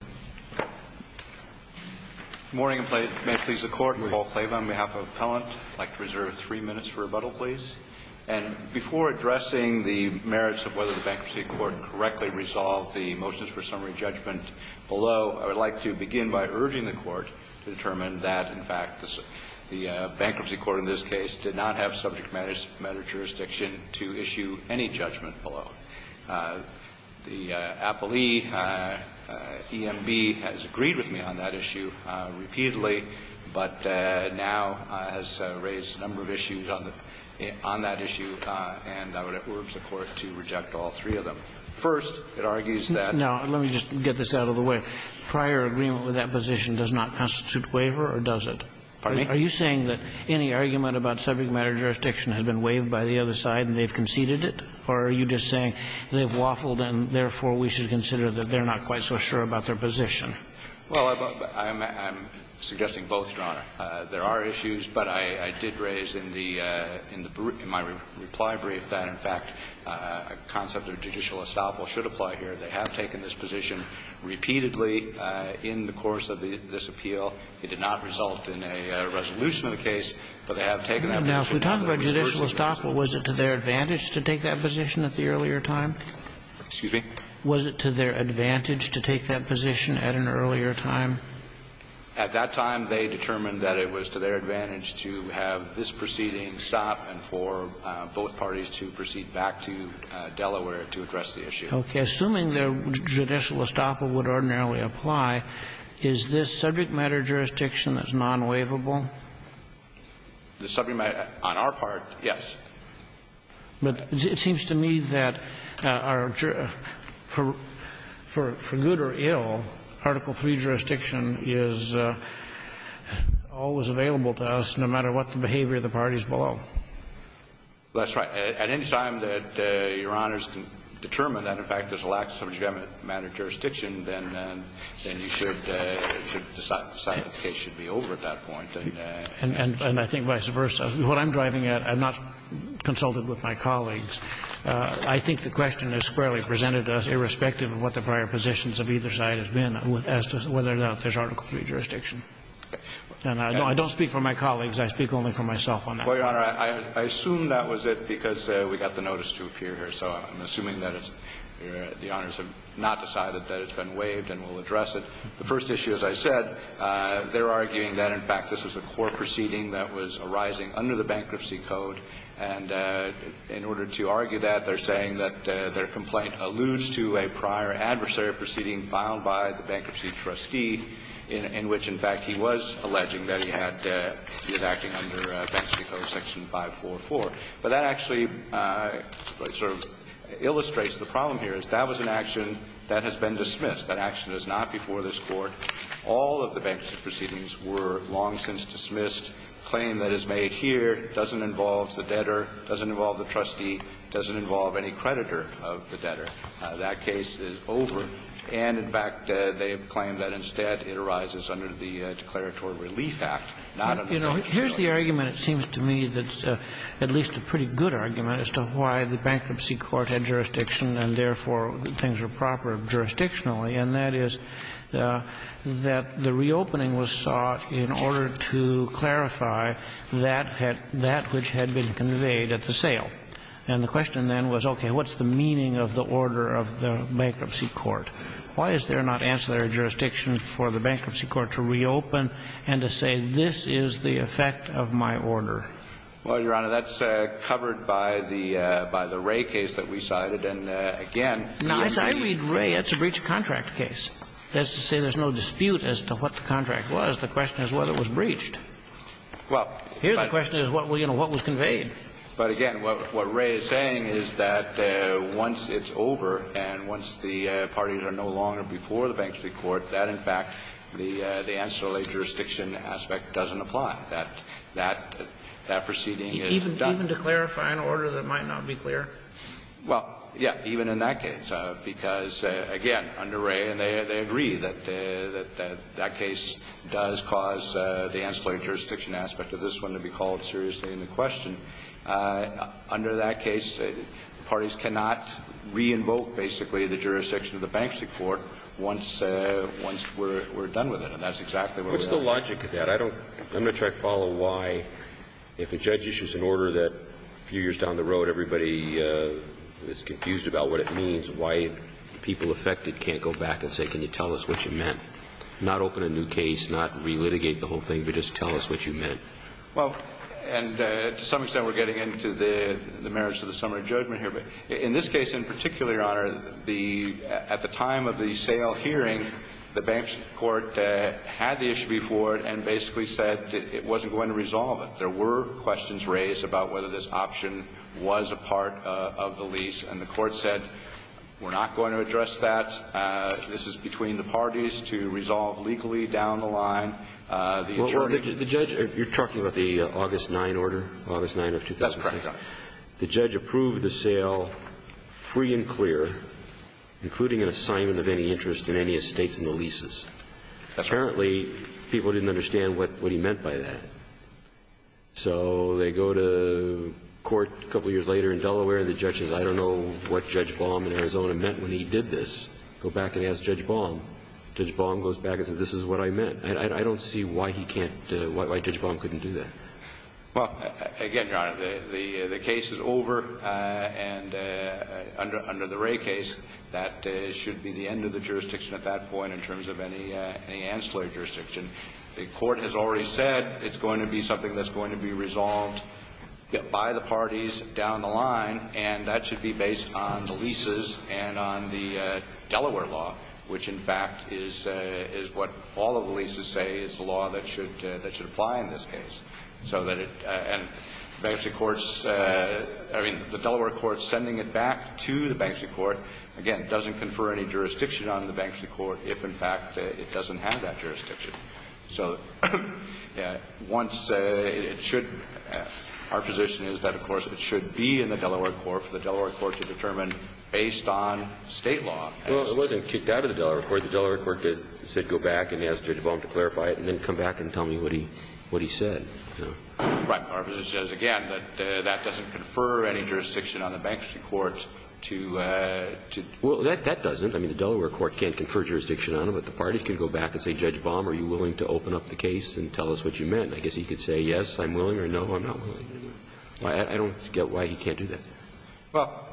Good morning, and may it please the Court, I'm Paul Klave on behalf of Appellant. I'd like to reserve three minutes for rebuttal, please. And before addressing the merits of whether the Bankruptcy Court correctly resolved the motions for summary judgment below, I would like to begin by urging the Court to determine that, in fact, the Bankruptcy Court in this case did not have subject matter jurisdiction to issue any judgment below. The appellee, E.M.B., has agreed with me on that issue repeatedly, but now has raised a number of issues on that issue, and I would urge the Court to reject all three of them. First, it argues that the Bankruptcy Court in this case did not have subject matter jurisdiction to issue any judgment below. First, it argues that the Bankruptcy Court in this case did not have subject matter matter jurisdiction to issue any judgment below. So I would urge the Court to reconsider that they're not quite so sure about their position. Well, I'm suggesting both, Your Honor. Excuse me? Was it to their advantage to take that position at an earlier time? At that time, they determined that it was to their advantage to have this proceeding stop and for both parties to proceed back to Delaware to address the issue. Okay. Assuming their judicial estoppel would ordinarily apply, is this subject matter jurisdiction that's non-waivable? The subject matter, on our part, yes. But it seems to me that for good or ill, Article III jurisdiction is always available to us, no matter what the behavior of the parties below. That's right. At any time that Your Honors can determine that, in fact, there's a lack of subject matter jurisdiction, then you should decide the case should be over at that point. And I think vice versa. What I'm driving at, I've not consulted with my colleagues. I think the question is fairly presented to us, irrespective of what the prior positions of either side has been, as to whether or not there's Article III jurisdiction. And I don't speak for my colleagues. I speak only for myself on that. Well, Your Honor, I assume that was it because we got the notice to appear here. So I'm assuming that the Honors have not decided that it's been waived and will address it. The first issue, as I said, they're arguing that, in fact, this was a core proceeding that was arising under the Bankruptcy Code. And in order to argue that, they're saying that their complaint alludes to a prior adversary proceeding filed by the bankruptcy trustee, in which, in fact, he was alleging that he had been acting under Bankruptcy Code Section 544. But that actually sort of illustrates the problem here, is that was an action that That action is not before this Court. All of the bankruptcy proceedings were long since dismissed. The claim that is made here doesn't involve the debtor, doesn't involve the trustee, doesn't involve any creditor of the debtor. That case is over. And, in fact, they have claimed that, instead, it arises under the Declaratory Relief Act, not under Bankruptcy Code. You know, here's the argument, it seems to me, that's at least a pretty good argument as to why the bankruptcy court had jurisdiction and, therefore, things were proper jurisdictionally, and that is that the reopening was sought in order to clarify that which had been conveyed at the sale. And the question then was, okay, what's the meaning of the order of the bankruptcy court? Why is there not ancillary jurisdiction for the bankruptcy court to reopen and to say this is the effect of my order? Well, Your Honor, that's covered by the Ray case that we cited. And, again, it's a breach of contract case. That's to say there's no dispute as to what the contract was. The question is whether it was breached. Here, the question is what was conveyed. But, again, what Ray is saying is that once it's over and once the parties are no longer before the bankruptcy court, that, in fact, the ancillary jurisdiction aspect doesn't apply, that that proceeding is done. Even to clarify an order that might not be clear? Well, yeah, even in that case. Because, again, under Ray, they agree that that case does cause the ancillary jurisdiction aspect of this one to be called seriously into question. Under that case, parties cannot re-invoke, basically, the jurisdiction of the bankruptcy court once we're done with it. And that's exactly where we're at. What's the logic of that? I don't know. I'm going to try to follow why, if a judge issues an order that a few years down the road, everybody is confused about what it means, why people affected can't go back and say, can you tell us what you meant? Not open a new case, not re-litigate the whole thing, but just tell us what you meant. Well, and to some extent, we're getting into the merits of the summary judgment here. But in this case, in particular, Your Honor, the at the time of the sale hearing, the bankruptcy court had the issue before it and basically said it wasn't going to resolve it. There were questions raised about whether this option was a part of the lease, and the court said, we're not going to address that. This is between the parties to resolve legally down the line. The attorney ---- Well, the judge, you're talking about the August 9 order, August 9 of 2006? That's correct, Your Honor. The judge approved the sale free and clear, including an assignment of any interest in any estates in the leases. That's right. Apparently, people didn't understand what he meant by that. So they go to court a couple of years later in Delaware, and the judge says, I don't know what Judge Baum in Arizona meant when he did this. Go back and ask Judge Baum. Judge Baum goes back and says, this is what I meant. I don't see why he can't ---- why Judge Baum couldn't do that. Well, again, Your Honor, the case is over, and under the Wray case, that should be the end of the jurisdiction at that point in terms of any ancillary jurisdiction. The court has already said it's going to be something that's going to be resolved by the parties down the line, and that should be based on the leases and on the Delaware law, which, in fact, is what all of the leases say is the law that should apply in this case. So that it ---- and the bankruptcy courts ---- I mean, the Delaware courts sending it back to the bankruptcy court, again, doesn't confer any jurisdiction on the bankruptcy court. So once it should ---- our position is that, of course, it should be in the Delaware court for the Delaware court to determine based on State law. Well, it wasn't kicked out of the Delaware court. The Delaware court said go back and ask Judge Baum to clarify it and then come back and tell me what he said. Right. Our position is, again, that that doesn't confer any jurisdiction on the bankruptcy court to ---- Well, that doesn't. I mean, the Delaware court can't confer jurisdiction on them, but the parties can go back and say, Judge Baum, are you willing to open up the case and tell us what you meant? And I guess he could say, yes, I'm willing, or no, I'm not willing. I don't get why he can't do that. Well,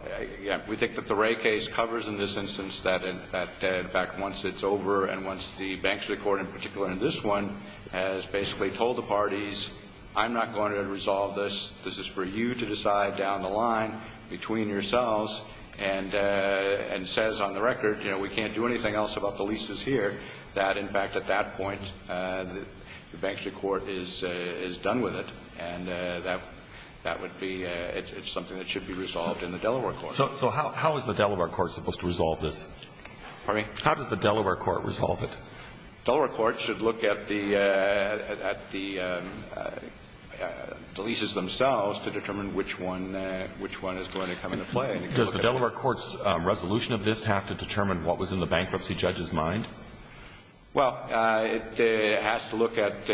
we think that the Wray case covers in this instance that, in fact, once it's over and once the bankruptcy court, in particular in this one, has basically told the parties, I'm not going to resolve this, this is for you to decide down the line between yourselves, and says on the record, you know, we can't do anything else about the leases here, that, in fact, at that point, the bankruptcy court is done with it, and that would be ---- it's something that should be resolved in the Delaware court. So how is the Delaware court supposed to resolve this? Pardon me? How does the Delaware court resolve it? Delaware court should look at the leases themselves to determine which one is going to come into play. Does the Delaware court's resolution of this have to determine what was in the bankruptcy judge's mind? Well, it has to look at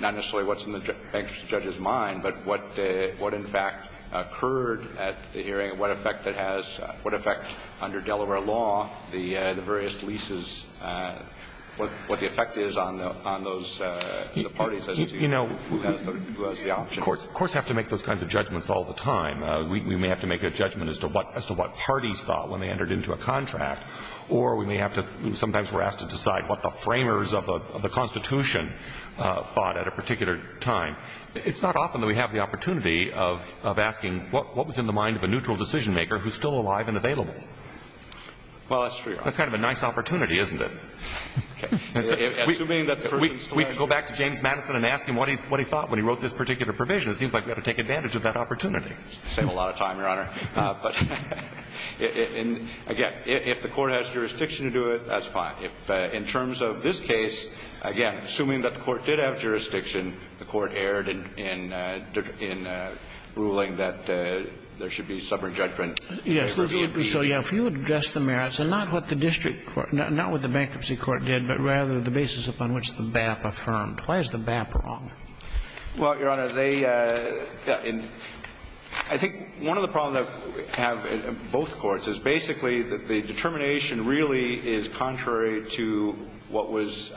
not necessarily what's in the bankruptcy judge's mind, but what in fact occurred at the hearing, what effect it has, what effect under Delaware law the various leases, what the effect is on those parties as to who has the option. Courts have to make those kinds of judgments all the time. We may have to make a judgment as to what parties thought when they entered into a contract, or we may have to ---- sometimes we're asked to decide what the framers of the Constitution thought at a particular time. It's not often that we have the opportunity of asking what was in the mind of a neutral decisionmaker who's still alive and available. Well, that's true. That's kind of a nice opportunity, isn't it? Okay. Assuming that the person's still alive. We can go back to James Madison and ask him what he thought when he wrote this particular It seems like we ought to take advantage of that opportunity. Save a lot of time, Your Honor. But, again, if the Court has jurisdiction to do it, that's fine. If, in terms of this case, again, assuming that the Court did have jurisdiction, the Court erred in ruling that there should be sovereign judgment. Yes. So, yeah, if you address the merits, and not what the district court, not what the bankruptcy court did, but rather the basis upon which the BAP affirmed. Why is the BAP wrong? Well, Your Honor, I think one of the problems we have in both courts is basically that the determination really is contrary to what was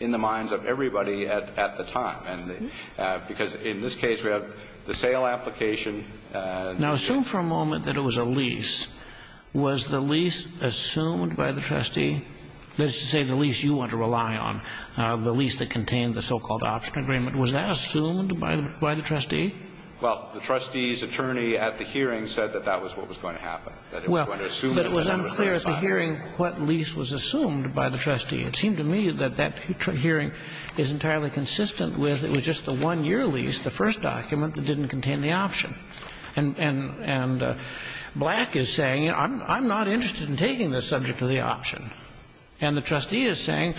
in the minds of everybody at the time. Because in this case, we have the sale application. Now, assume for a moment that it was a lease. Was the lease assumed by the trustee? That is to say, the lease you want to rely on, the lease that contained the so-called option agreement, was that assumed by the trustee? Well, the trustee's attorney at the hearing said that that was what was going to happen. Well, but it was unclear at the hearing what lease was assumed by the trustee. It seemed to me that that hearing is entirely consistent with it was just the one-year lease, the first document, that didn't contain the option. And Black is saying, you know, I'm not interested in taking this subject to the option. And the trustee is saying,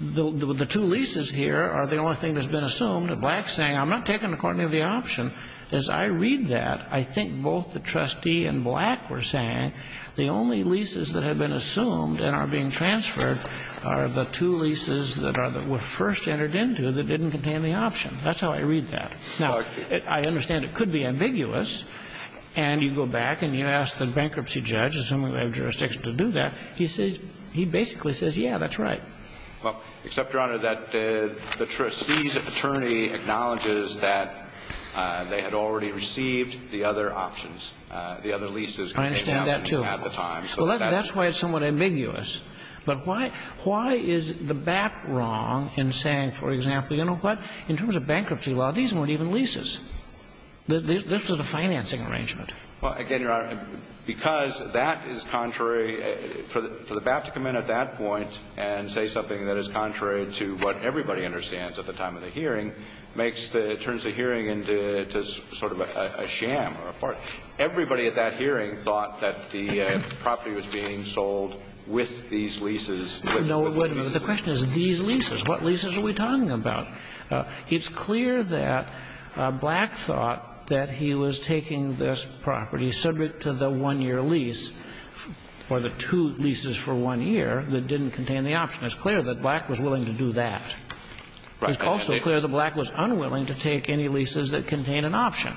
the two leases here are the only thing that's been assumed. And Black's saying, I'm not taking it according to the option. As I read that, I think both the trustee and Black were saying, the only leases that have been assumed and are being transferred are the two leases that were first entered into that didn't contain the option. That's how I read that. Now, I understand it could be ambiguous, and you go back and you ask the bankruptcy judge, assuming they have jurisdiction to do that, he basically says, yeah, that's right. Except, Your Honor, that the trustee's attorney acknowledges that they had already received the other options, the other leases. I understand that, too. At the time. Well, that's why it's somewhat ambiguous. But why is the BAP wrong in saying, for example, you know what, in terms of bankruptcy law, these weren't even leases. This was a financing arrangement. Well, again, Your Honor, because that is contrary, for the BAP to come in at that point and say something that is contrary to what everybody understands at the time of the hearing makes the – turns the hearing into sort of a sham or a farce. Everybody at that hearing thought that the property was being sold with these leases with the leases. No, wait a minute. The question is these leases. What leases are we talking about? It's clear that Black thought that he was taking this property subject to the one-year lease or the two leases for one year that didn't contain the option. It's clear that Black was willing to do that. Right. It's also clear that Black was unwilling to take any leases that contained an option.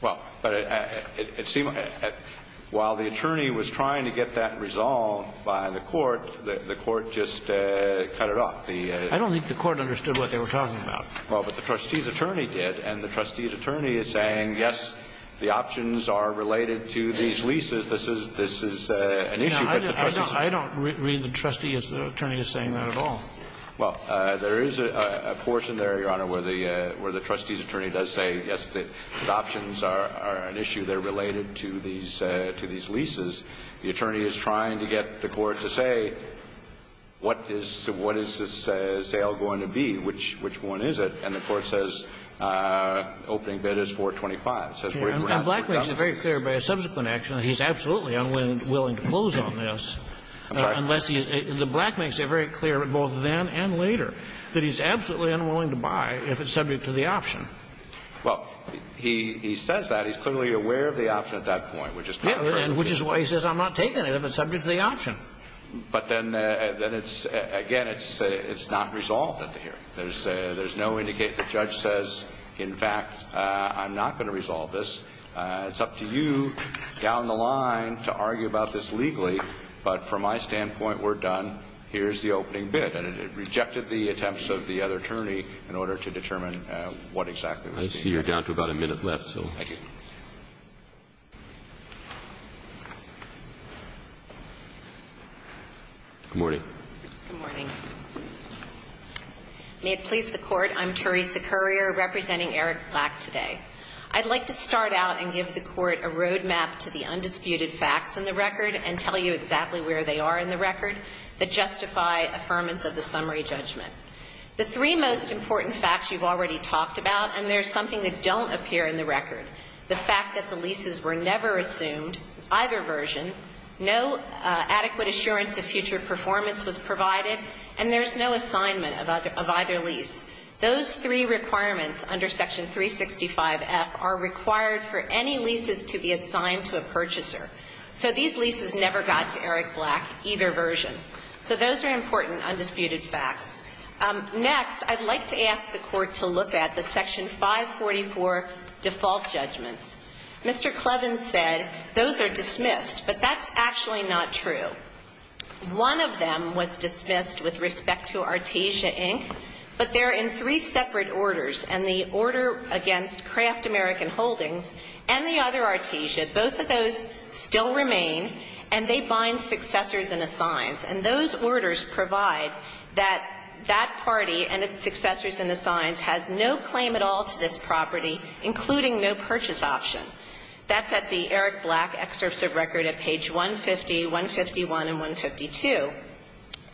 Well, but it seems – while the attorney was trying to get that resolved by the court, the court just cut it off. I don't think the court understood what they were talking about. Well, but the trustee's attorney did. And the trustee's attorney is saying, yes, the options are related to these leases. This is an issue. I don't read the trustee as the attorney is saying that at all. Well, there is a portion there, Your Honor, where the trustee's attorney does say, yes, the options are an issue. They're related to these leases. The attorney is trying to get the court to say what is this sale going to be, which one is it. And the court says opening bid is 425. And Black makes it very clear by a subsequent action that he's absolutely unwilling to close on this unless he's – Black makes it very clear both then and later that he's absolutely unwilling to buy if it's subject to the option. Well, he says that. And which is why he says I'm not taking it if it's subject to the option. But then it's – again, it's not resolved at the hearing. There's no indicating – the judge says, in fact, I'm not going to resolve this. It's up to you down the line to argue about this legally. But from my standpoint, we're done. Here's the opening bid. And it rejected the attempts of the other attorney in order to determine what exactly was being done. I see you're down to about a minute left, so. Thank you. Good morning. Good morning. May it please the Court, I'm Theresa Currier representing Eric Black today. I'd like to start out and give the Court a roadmap to the undisputed facts in the record and tell you exactly where they are in the record that justify affirmance of the summary judgment. The three most important facts you've already talked about, and there's something that don't appear in the record. The fact that the leases were never assumed, either version, no adequate assurance of future performance was provided, and there's no assignment of either lease. Those three requirements under Section 365F are required for any leases to be assigned to a purchaser. So these leases never got to Eric Black, either version. So those are important undisputed facts. Next, I'd like to ask the Court to look at the Section 544 default judgments. Mr. Clevens said those are dismissed, but that's actually not true. One of them was dismissed with respect to Artesia, Inc., but they're in three separate orders, and the order against Kraft American Holdings and the other, Artesia, both of those still remain, and they bind successors and assigns. And those orders provide that that party and its successors and assigns has no claim at all to this property, including no purchase option. That's at the Eric Black excerpts of record at page 150, 151, and 152.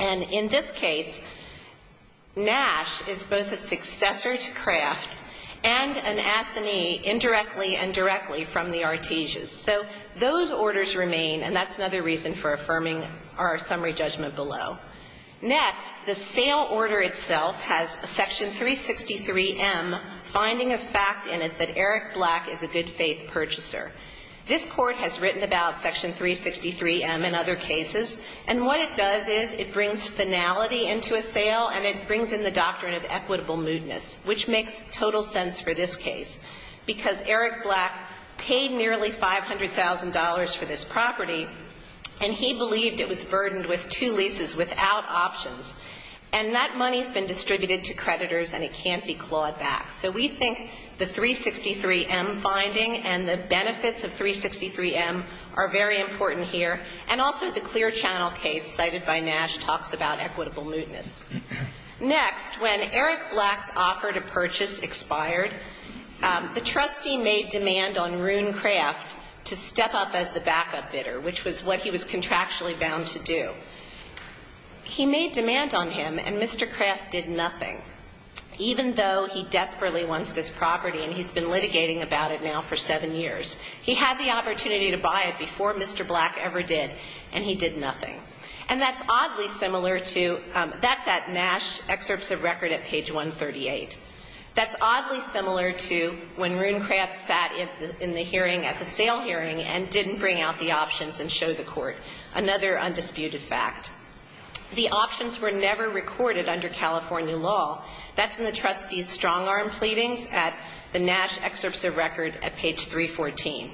And in this case, Nash is both a successor to Kraft and an assignee indirectly and directly from the Artesias. So those orders remain, and that's another reason for affirming our summary judgment below. Next, the sale order itself has Section 363M, finding of fact in it that Eric Black is a good-faith purchaser. This Court has written about Section 363M in other cases, and what it does is it brings finality into a sale and it brings in the doctrine of equitable moodness, which makes total sense for this case, because Eric Black paid nearly $500,000 for this property, and he believed it was burdened with two leases without options. And that money has been distributed to creditors, and it can't be clawed back. So we think the 363M finding and the benefits of 363M are very important here. And also the clear channel case cited by Nash talks about equitable moodness. Next, when Eric Black's offer to purchase expired, the trustee made demand on Rune Kraft to step up as the backup bidder, which was what he was contractually bound to do. He made demand on him, and Mr. Kraft did nothing, even though he desperately wants this property and he's been litigating about it now for seven years. He had the opportunity to buy it before Mr. Black ever did, and he did nothing. And that's oddly similar to, that's at Nash excerpts of record at page 138. That's oddly similar to when Rune Kraft sat in the hearing at the sale hearing and didn't bring out the options and show the court, another undisputed fact. The options were never recorded under California law. That's in the trustee's strong-arm pleadings at the Nash excerpts of record at page 314.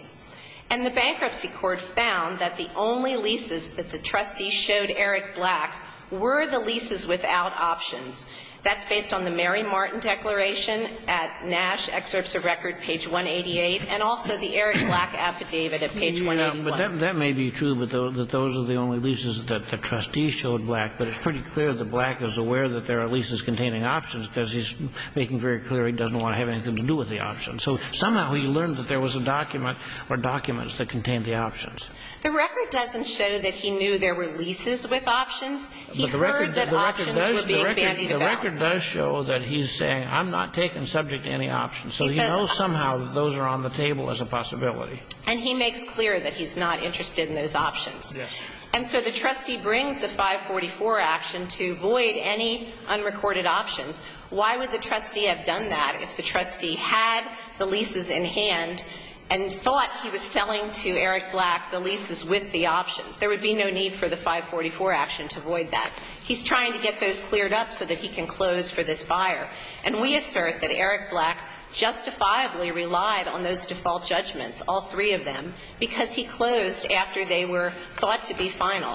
And the bankruptcy court found that the only leases that the trustees showed Eric Black were the leases without options. That's based on the Mary Martin declaration at Nash excerpts of record, page 188, and also the Eric Black affidavit at page 181. But that may be true, that those are the only leases that the trustees showed Black, but it's pretty clear that Black is aware that there are leases containing options because he's making very clear he doesn't want to have anything to do with the options. So somehow he learned that there was a document or documents that contained the options. The record doesn't show that he knew there were leases with options. He heard that options were being bandied about. The record does show that he's saying, I'm not taking subject to any options. So he knows somehow that those are on the table as a possibility. And he makes clear that he's not interested in those options. Yes. And so the trustee brings the 544 action to void any unrecorded options. Why would the trustee have done that if the trustee had the leases in hand and thought he was selling to Eric Black the leases with the options? There would be no need for the 544 action to void that. He's trying to get those cleared up so that he can close for this buyer. And we assert that Eric Black justifiably relied on those default judgments, all three of them, because he closed after they were thought to be final.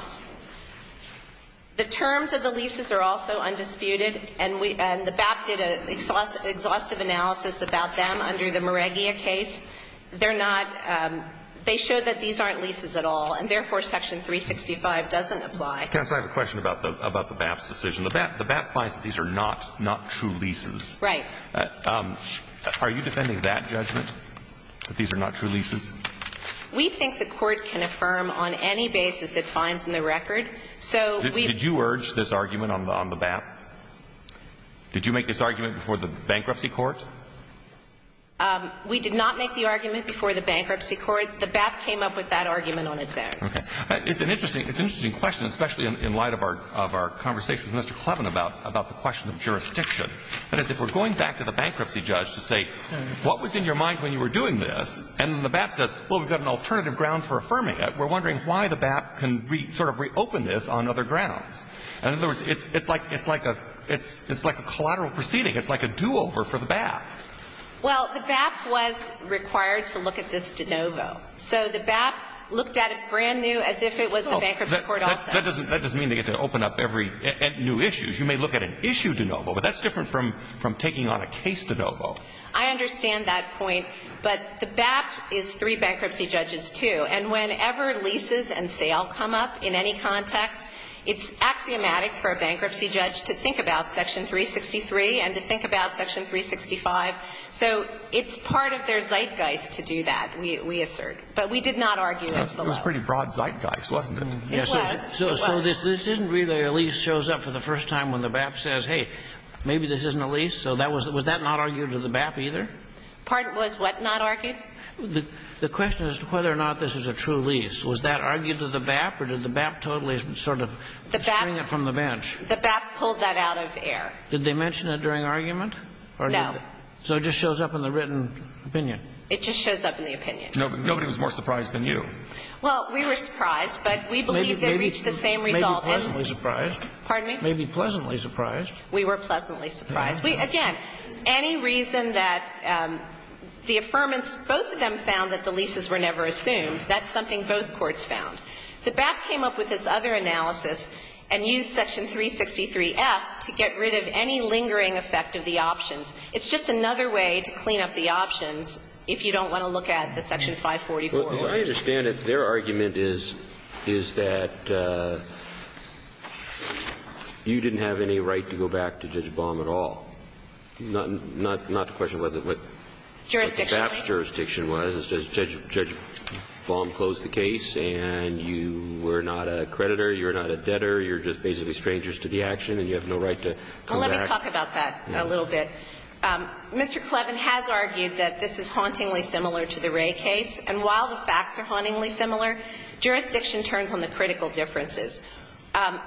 The terms of the leases are also undisputed, and we – and the BAP did an exhaustive analysis about them under the Moreggia case. They're not – they show that these aren't leases at all, and therefore Section 365 doesn't apply. Counsel, I have a question about the BAP's decision. The BAP finds that these are not true leases. Right. Are you defending that judgment, that these are not true leases? We think the Court can affirm on any basis it finds in the record. So we – Did you urge this argument on the BAP? Did you make this argument before the Bankruptcy Court? We did not make the argument before the Bankruptcy Court. The BAP came up with that argument on its own. Okay. It's an interesting – it's an interesting question, especially in light of our – of our conversation with Mr. Clevin about the question of jurisdiction. That is, if we're going back to the bankruptcy judge to say, what was in your mind when you were doing this? And then the BAP says, well, we've got an alternative ground for affirming it. We're wondering why the BAP can sort of reopen this on other grounds. And in other words, it's like – it's like a – it's like a collateral proceeding. It's like a do-over for the BAP. Well, the BAP was required to look at this de novo. So the BAP looked at it brand new as if it was the Bankruptcy Court also. That doesn't – that doesn't mean they get to open up every new issue. You may look at an issue de novo, but that's different from taking on a case de novo. I understand that point. But the BAP is three bankruptcy judges, too. And whenever leases and sale come up in any context, it's axiomatic for a bankruptcy judge to think about Section 363 and to think about Section 365. So it's part of their zeitgeist to do that, we assert. But we did not argue it. It was a pretty broad zeitgeist, wasn't it? It was. So this isn't really a lease shows up for the first time when the BAP says, hey, maybe this isn't a lease. So that was – was that not argued to the BAP either? Pardon? Was what not argued? The question is whether or not this is a true lease. Was that argued to the BAP or did the BAP totally sort of string it from the bench? The BAP pulled that out of air. Did they mention it during argument? No. So it just shows up in the written opinion? It just shows up in the opinion. Nobody was more surprised than you. Well, we were surprised, but we believe they reached the same result. Maybe pleasantly surprised. Pardon me? Maybe pleasantly surprised. We were pleasantly surprised. Again, any reason that the affirmants, both of them found that the leases were never assumed, that's something both courts found. The BAP came up with this other analysis and used Section 363-F to get rid of any lingering effect of the options. It's just another way to clean up the options if you don't want to look at the Section 544. Well, as I understand it, their argument is, is that you didn't have any right to go back to Judge Baum at all. Not to question what the BAP's jurisdiction was. Jurisdiction. Judge Baum closed the case, and you were not a creditor. You were not a debtor. You're just basically strangers to the action, and you have no right to go back. Well, let me talk about that a little bit. Mr. Clevin has argued that this is hauntingly similar to the Wray case, and while the facts are hauntingly similar, jurisdiction turns on the critical differences.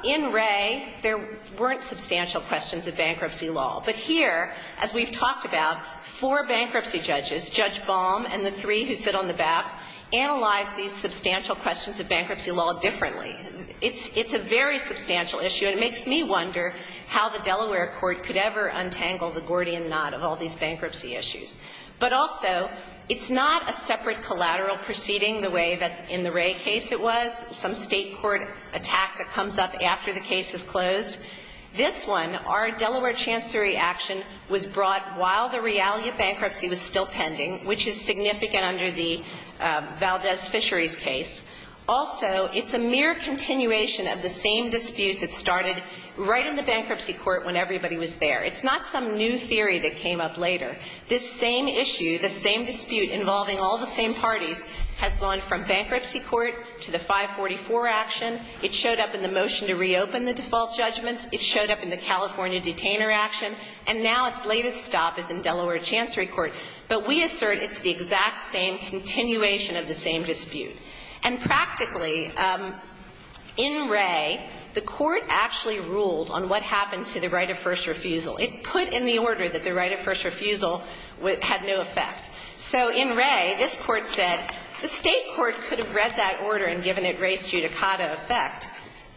In Wray, there weren't substantial questions of bankruptcy law. But here, as we've talked about, four bankruptcy judges, Judge Baum and the three who sit on the BAP, analyze these substantial questions of bankruptcy law differently. It's a very substantial issue, and it makes me wonder how the Delaware court could ever untangle the Gordian knot of all these bankruptcy issues. But also, it's not a separate collateral proceeding the way that in the Wray case it was, some state court attack that comes up after the case is closed. This one, our Delaware chancery action, was brought while the reality of bankruptcy was still pending, which is significant under the Valdez Fisheries case. Also, it's a mere continuation of the same dispute that started right in the bankruptcy court when everybody was there. It's not some new theory that came up later. This same issue, this same dispute involving all the same parties, has gone from action. It showed up in the motion to reopen the default judgments. It showed up in the California detainer action. And now its latest stop is in Delaware chancery court. But we assert it's the exact same continuation of the same dispute. And practically, in Wray, the court actually ruled on what happened to the right-of-first refusal. It put in the order that the right-of-first refusal had no effect. So in Wray, this Court said the state court could have read that order and given it res judicata effect,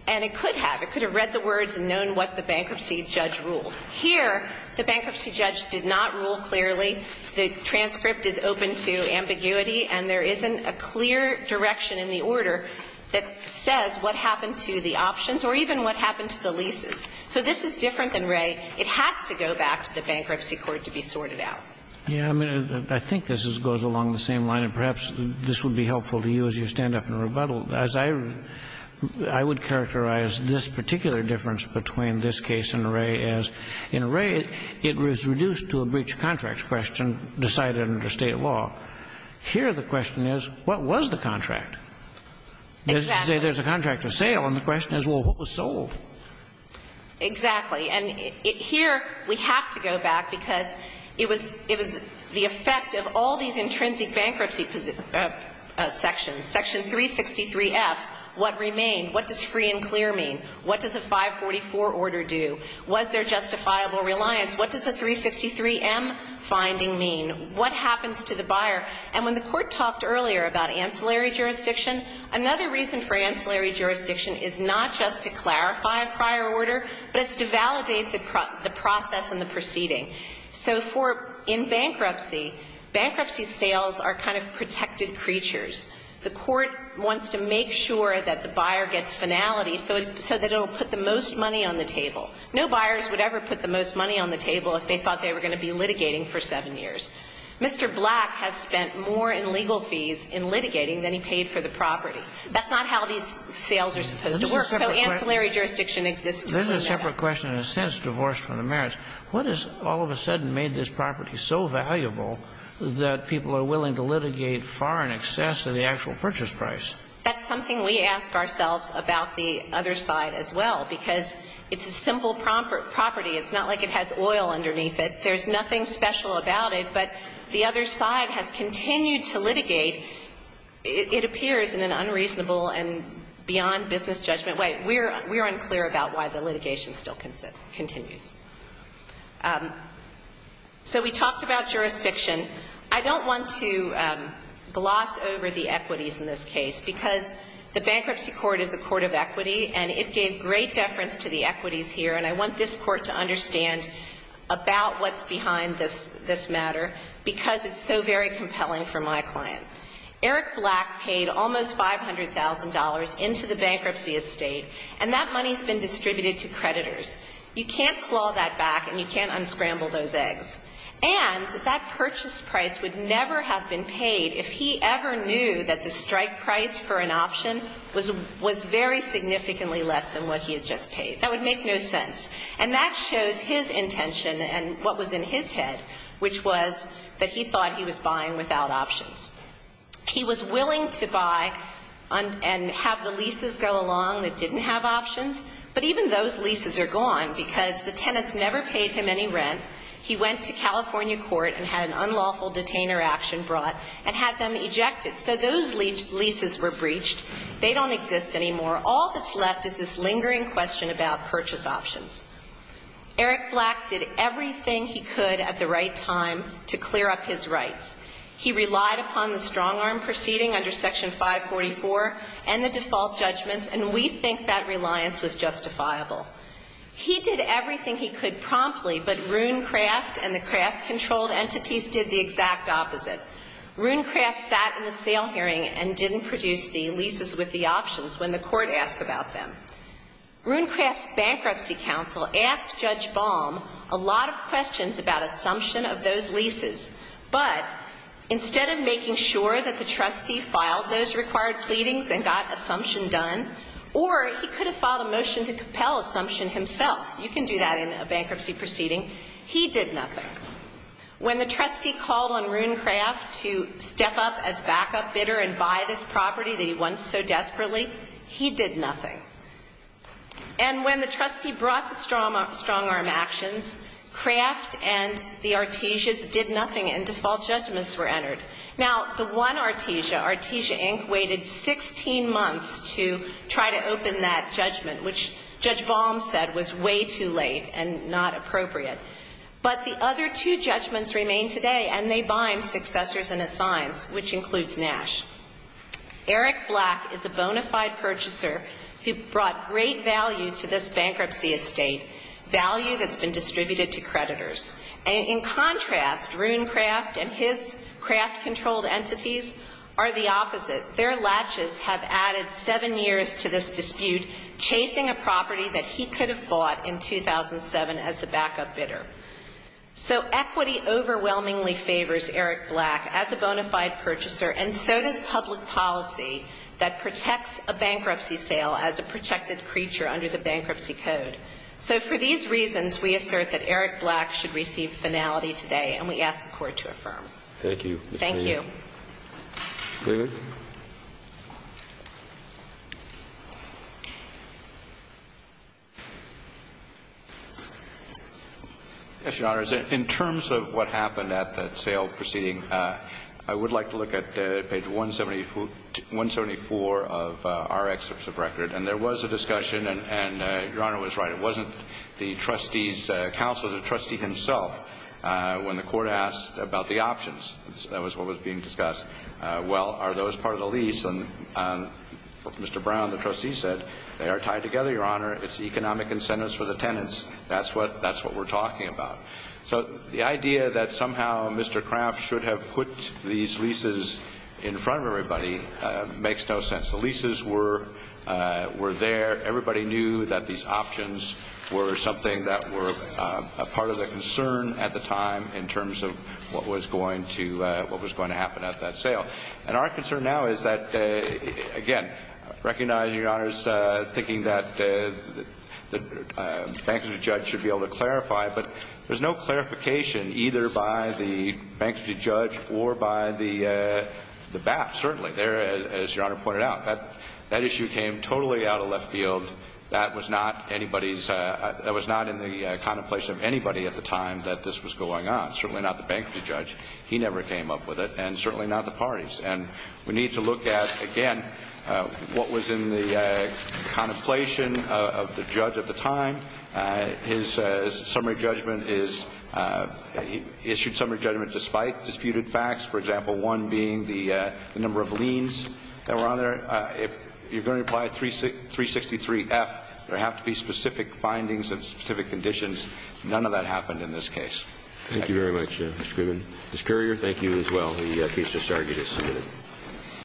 and it could have. It could have read the words and known what the bankruptcy judge ruled. Here, the bankruptcy judge did not rule clearly. The transcript is open to ambiguity. And there isn't a clear direction in the order that says what happened to the options or even what happened to the leases. So this is different than Wray. It has to go back to the bankruptcy court to be sorted out. Yeah. I mean, I think this goes along the same line. And perhaps this would be helpful to you as you stand up and rebuttal. As I would characterize this particular difference between this case and Wray as in Wray, it was reduced to a breach of contract question decided under State law. Here, the question is, what was the contract? Exactly. There's a contract of sale, and the question is, well, what was sold? Exactly. And here we have to go back because it was the effect of all these intrinsic bankruptcy sections. Section 363F, what remained? What does free and clear mean? What does a 544 order do? Was there justifiable reliance? What does a 363M finding mean? What happens to the buyer? And when the Court talked earlier about ancillary jurisdiction, another reason for ancillary jurisdiction is not just to clarify a prior order, but it's to validate the process and the proceeding. So for in bankruptcy, bankruptcy sales are kind of protected creatures. The Court wants to make sure that the buyer gets finality so that it will put the most money on the table. No buyers would ever put the most money on the table if they thought they were going to be litigating for 7 years. Mr. Black has spent more in legal fees in litigating than he paid for the property. That's not how these sales are supposed to work. So ancillary jurisdiction exists. There's a separate question in a sense divorced from the merits. What has all of a sudden made this property so valuable that people are willing to litigate far in excess of the actual purchase price? That's something we ask ourselves about the other side as well, because it's a simple property. It's not like it has oil underneath it. There's nothing special about it. But the other side has continued to litigate. It appears in an unreasonable and beyond business judgment way. We're unclear about why the litigation still continues. So we talked about jurisdiction. I don't want to gloss over the equities in this case, because the Bankruptcy Court is a court of equity, and it gave great deference to the equities here. And I want this Court to understand about what's behind this matter, because it's so very compelling for my client. Eric Black paid almost $500,000 into the bankruptcy estate, and that money's been distributed to creditors. You can't claw that back, and you can't unscramble those eggs. And that purchase price would never have been paid if he ever knew that the strike price for an option was very significantly less than what he had just paid. That would make no sense. And that shows his intention and what was in his head, which was that he thought he was buying without options. He was willing to buy and have the leases go along that didn't have options, but even those leases are gone because the tenants never paid him any rent. He went to California court and had an unlawful detainer action brought and had them ejected. So those leases were breached. They don't exist anymore. All that's left is this lingering question about purchase options. Eric Black did everything he could at the right time to clear up his rights. He relied upon the strong-arm proceeding under Section 544 and the default judgments, and we think that reliance was justifiable. He did everything he could promptly, but Runecraft and the craft-controlled entities did the exact opposite. Runecraft sat in the sale hearing and didn't produce the leases with the options when the court asked about them. Runecraft's bankruptcy counsel asked Judge Baum a lot of questions about assumption of those leases, but instead of making sure that the trustee filed those required pleadings and got assumption done, or he could have filed a motion to compel assumption himself. You can do that in a bankruptcy proceeding. He did nothing. When the trustee called on Runecraft to step up as backup bidder and buy this property that he wants so desperately, he did nothing. And when the trustee brought the strong-arm actions, craft and the Artesias did nothing and default judgments were entered. Now, the one Artesia, Artesia Inc., waited 16 months to try to open that judgment, which Judge Baum said was way too late and not appropriate. But the other two judgments remain today, and they bind successors and assigns, which includes Nash. Eric Black is a bona fide purchaser who brought great value to this bankruptcy estate, value that's been distributed to creditors. And in contrast, Runecraft and his craft-controlled entities are the opposite. Their latches have added seven years to this dispute, chasing a property that he could have bought in 2007 as the backup bidder. So equity overwhelmingly favors Eric Black as a bona fide purchaser, and so does public policy that protects a bankruptcy sale as a protected creature under the Bankruptcy Code. So for these reasons, we assert that Eric Black should receive finality today, and we ask the Court to affirm. Thank you. Thank you. David? Yes, Your Honors. In terms of what happened at that sale proceeding, I would like to look at page 174 of our excerpts of record. And there was a discussion, and Your Honor was right. It wasn't the trustee's counsel, the trustee himself, when the Court asked about the options. That was what was being discussed. Well, are those part of the lease? And Mr. Brown, the trustee, said they are tied together, Your Honor. It's economic incentives for the tenants. That's what we're talking about. So the idea that somehow Mr. Craft should have put these leases in front of everybody makes no sense. The leases were there. Everybody knew that these options were something that were a part of the concern at the time in terms of what was going to happen at that sale. I was thinking that the bankruptcy judge should be able to clarify, but there's no clarification either by the bankruptcy judge or by the BAP, certainly, as Your Honor pointed out. That issue came totally out of left field. That was not in the contemplation of anybody at the time that this was going on, certainly not the bankruptcy judge. He never came up with it, and certainly not the parties. And we need to look at, again, what was in the contemplation of the judge at the time. His summary judgment is he issued summary judgment despite disputed facts, for example, one being the number of liens that were on there. If you're going to apply 363F, there have to be specific findings and specific conditions. None of that happened in this case. Thank you very much, Mr. Grubin. Ms. Currier, thank you as well. The case is discharged as submitted.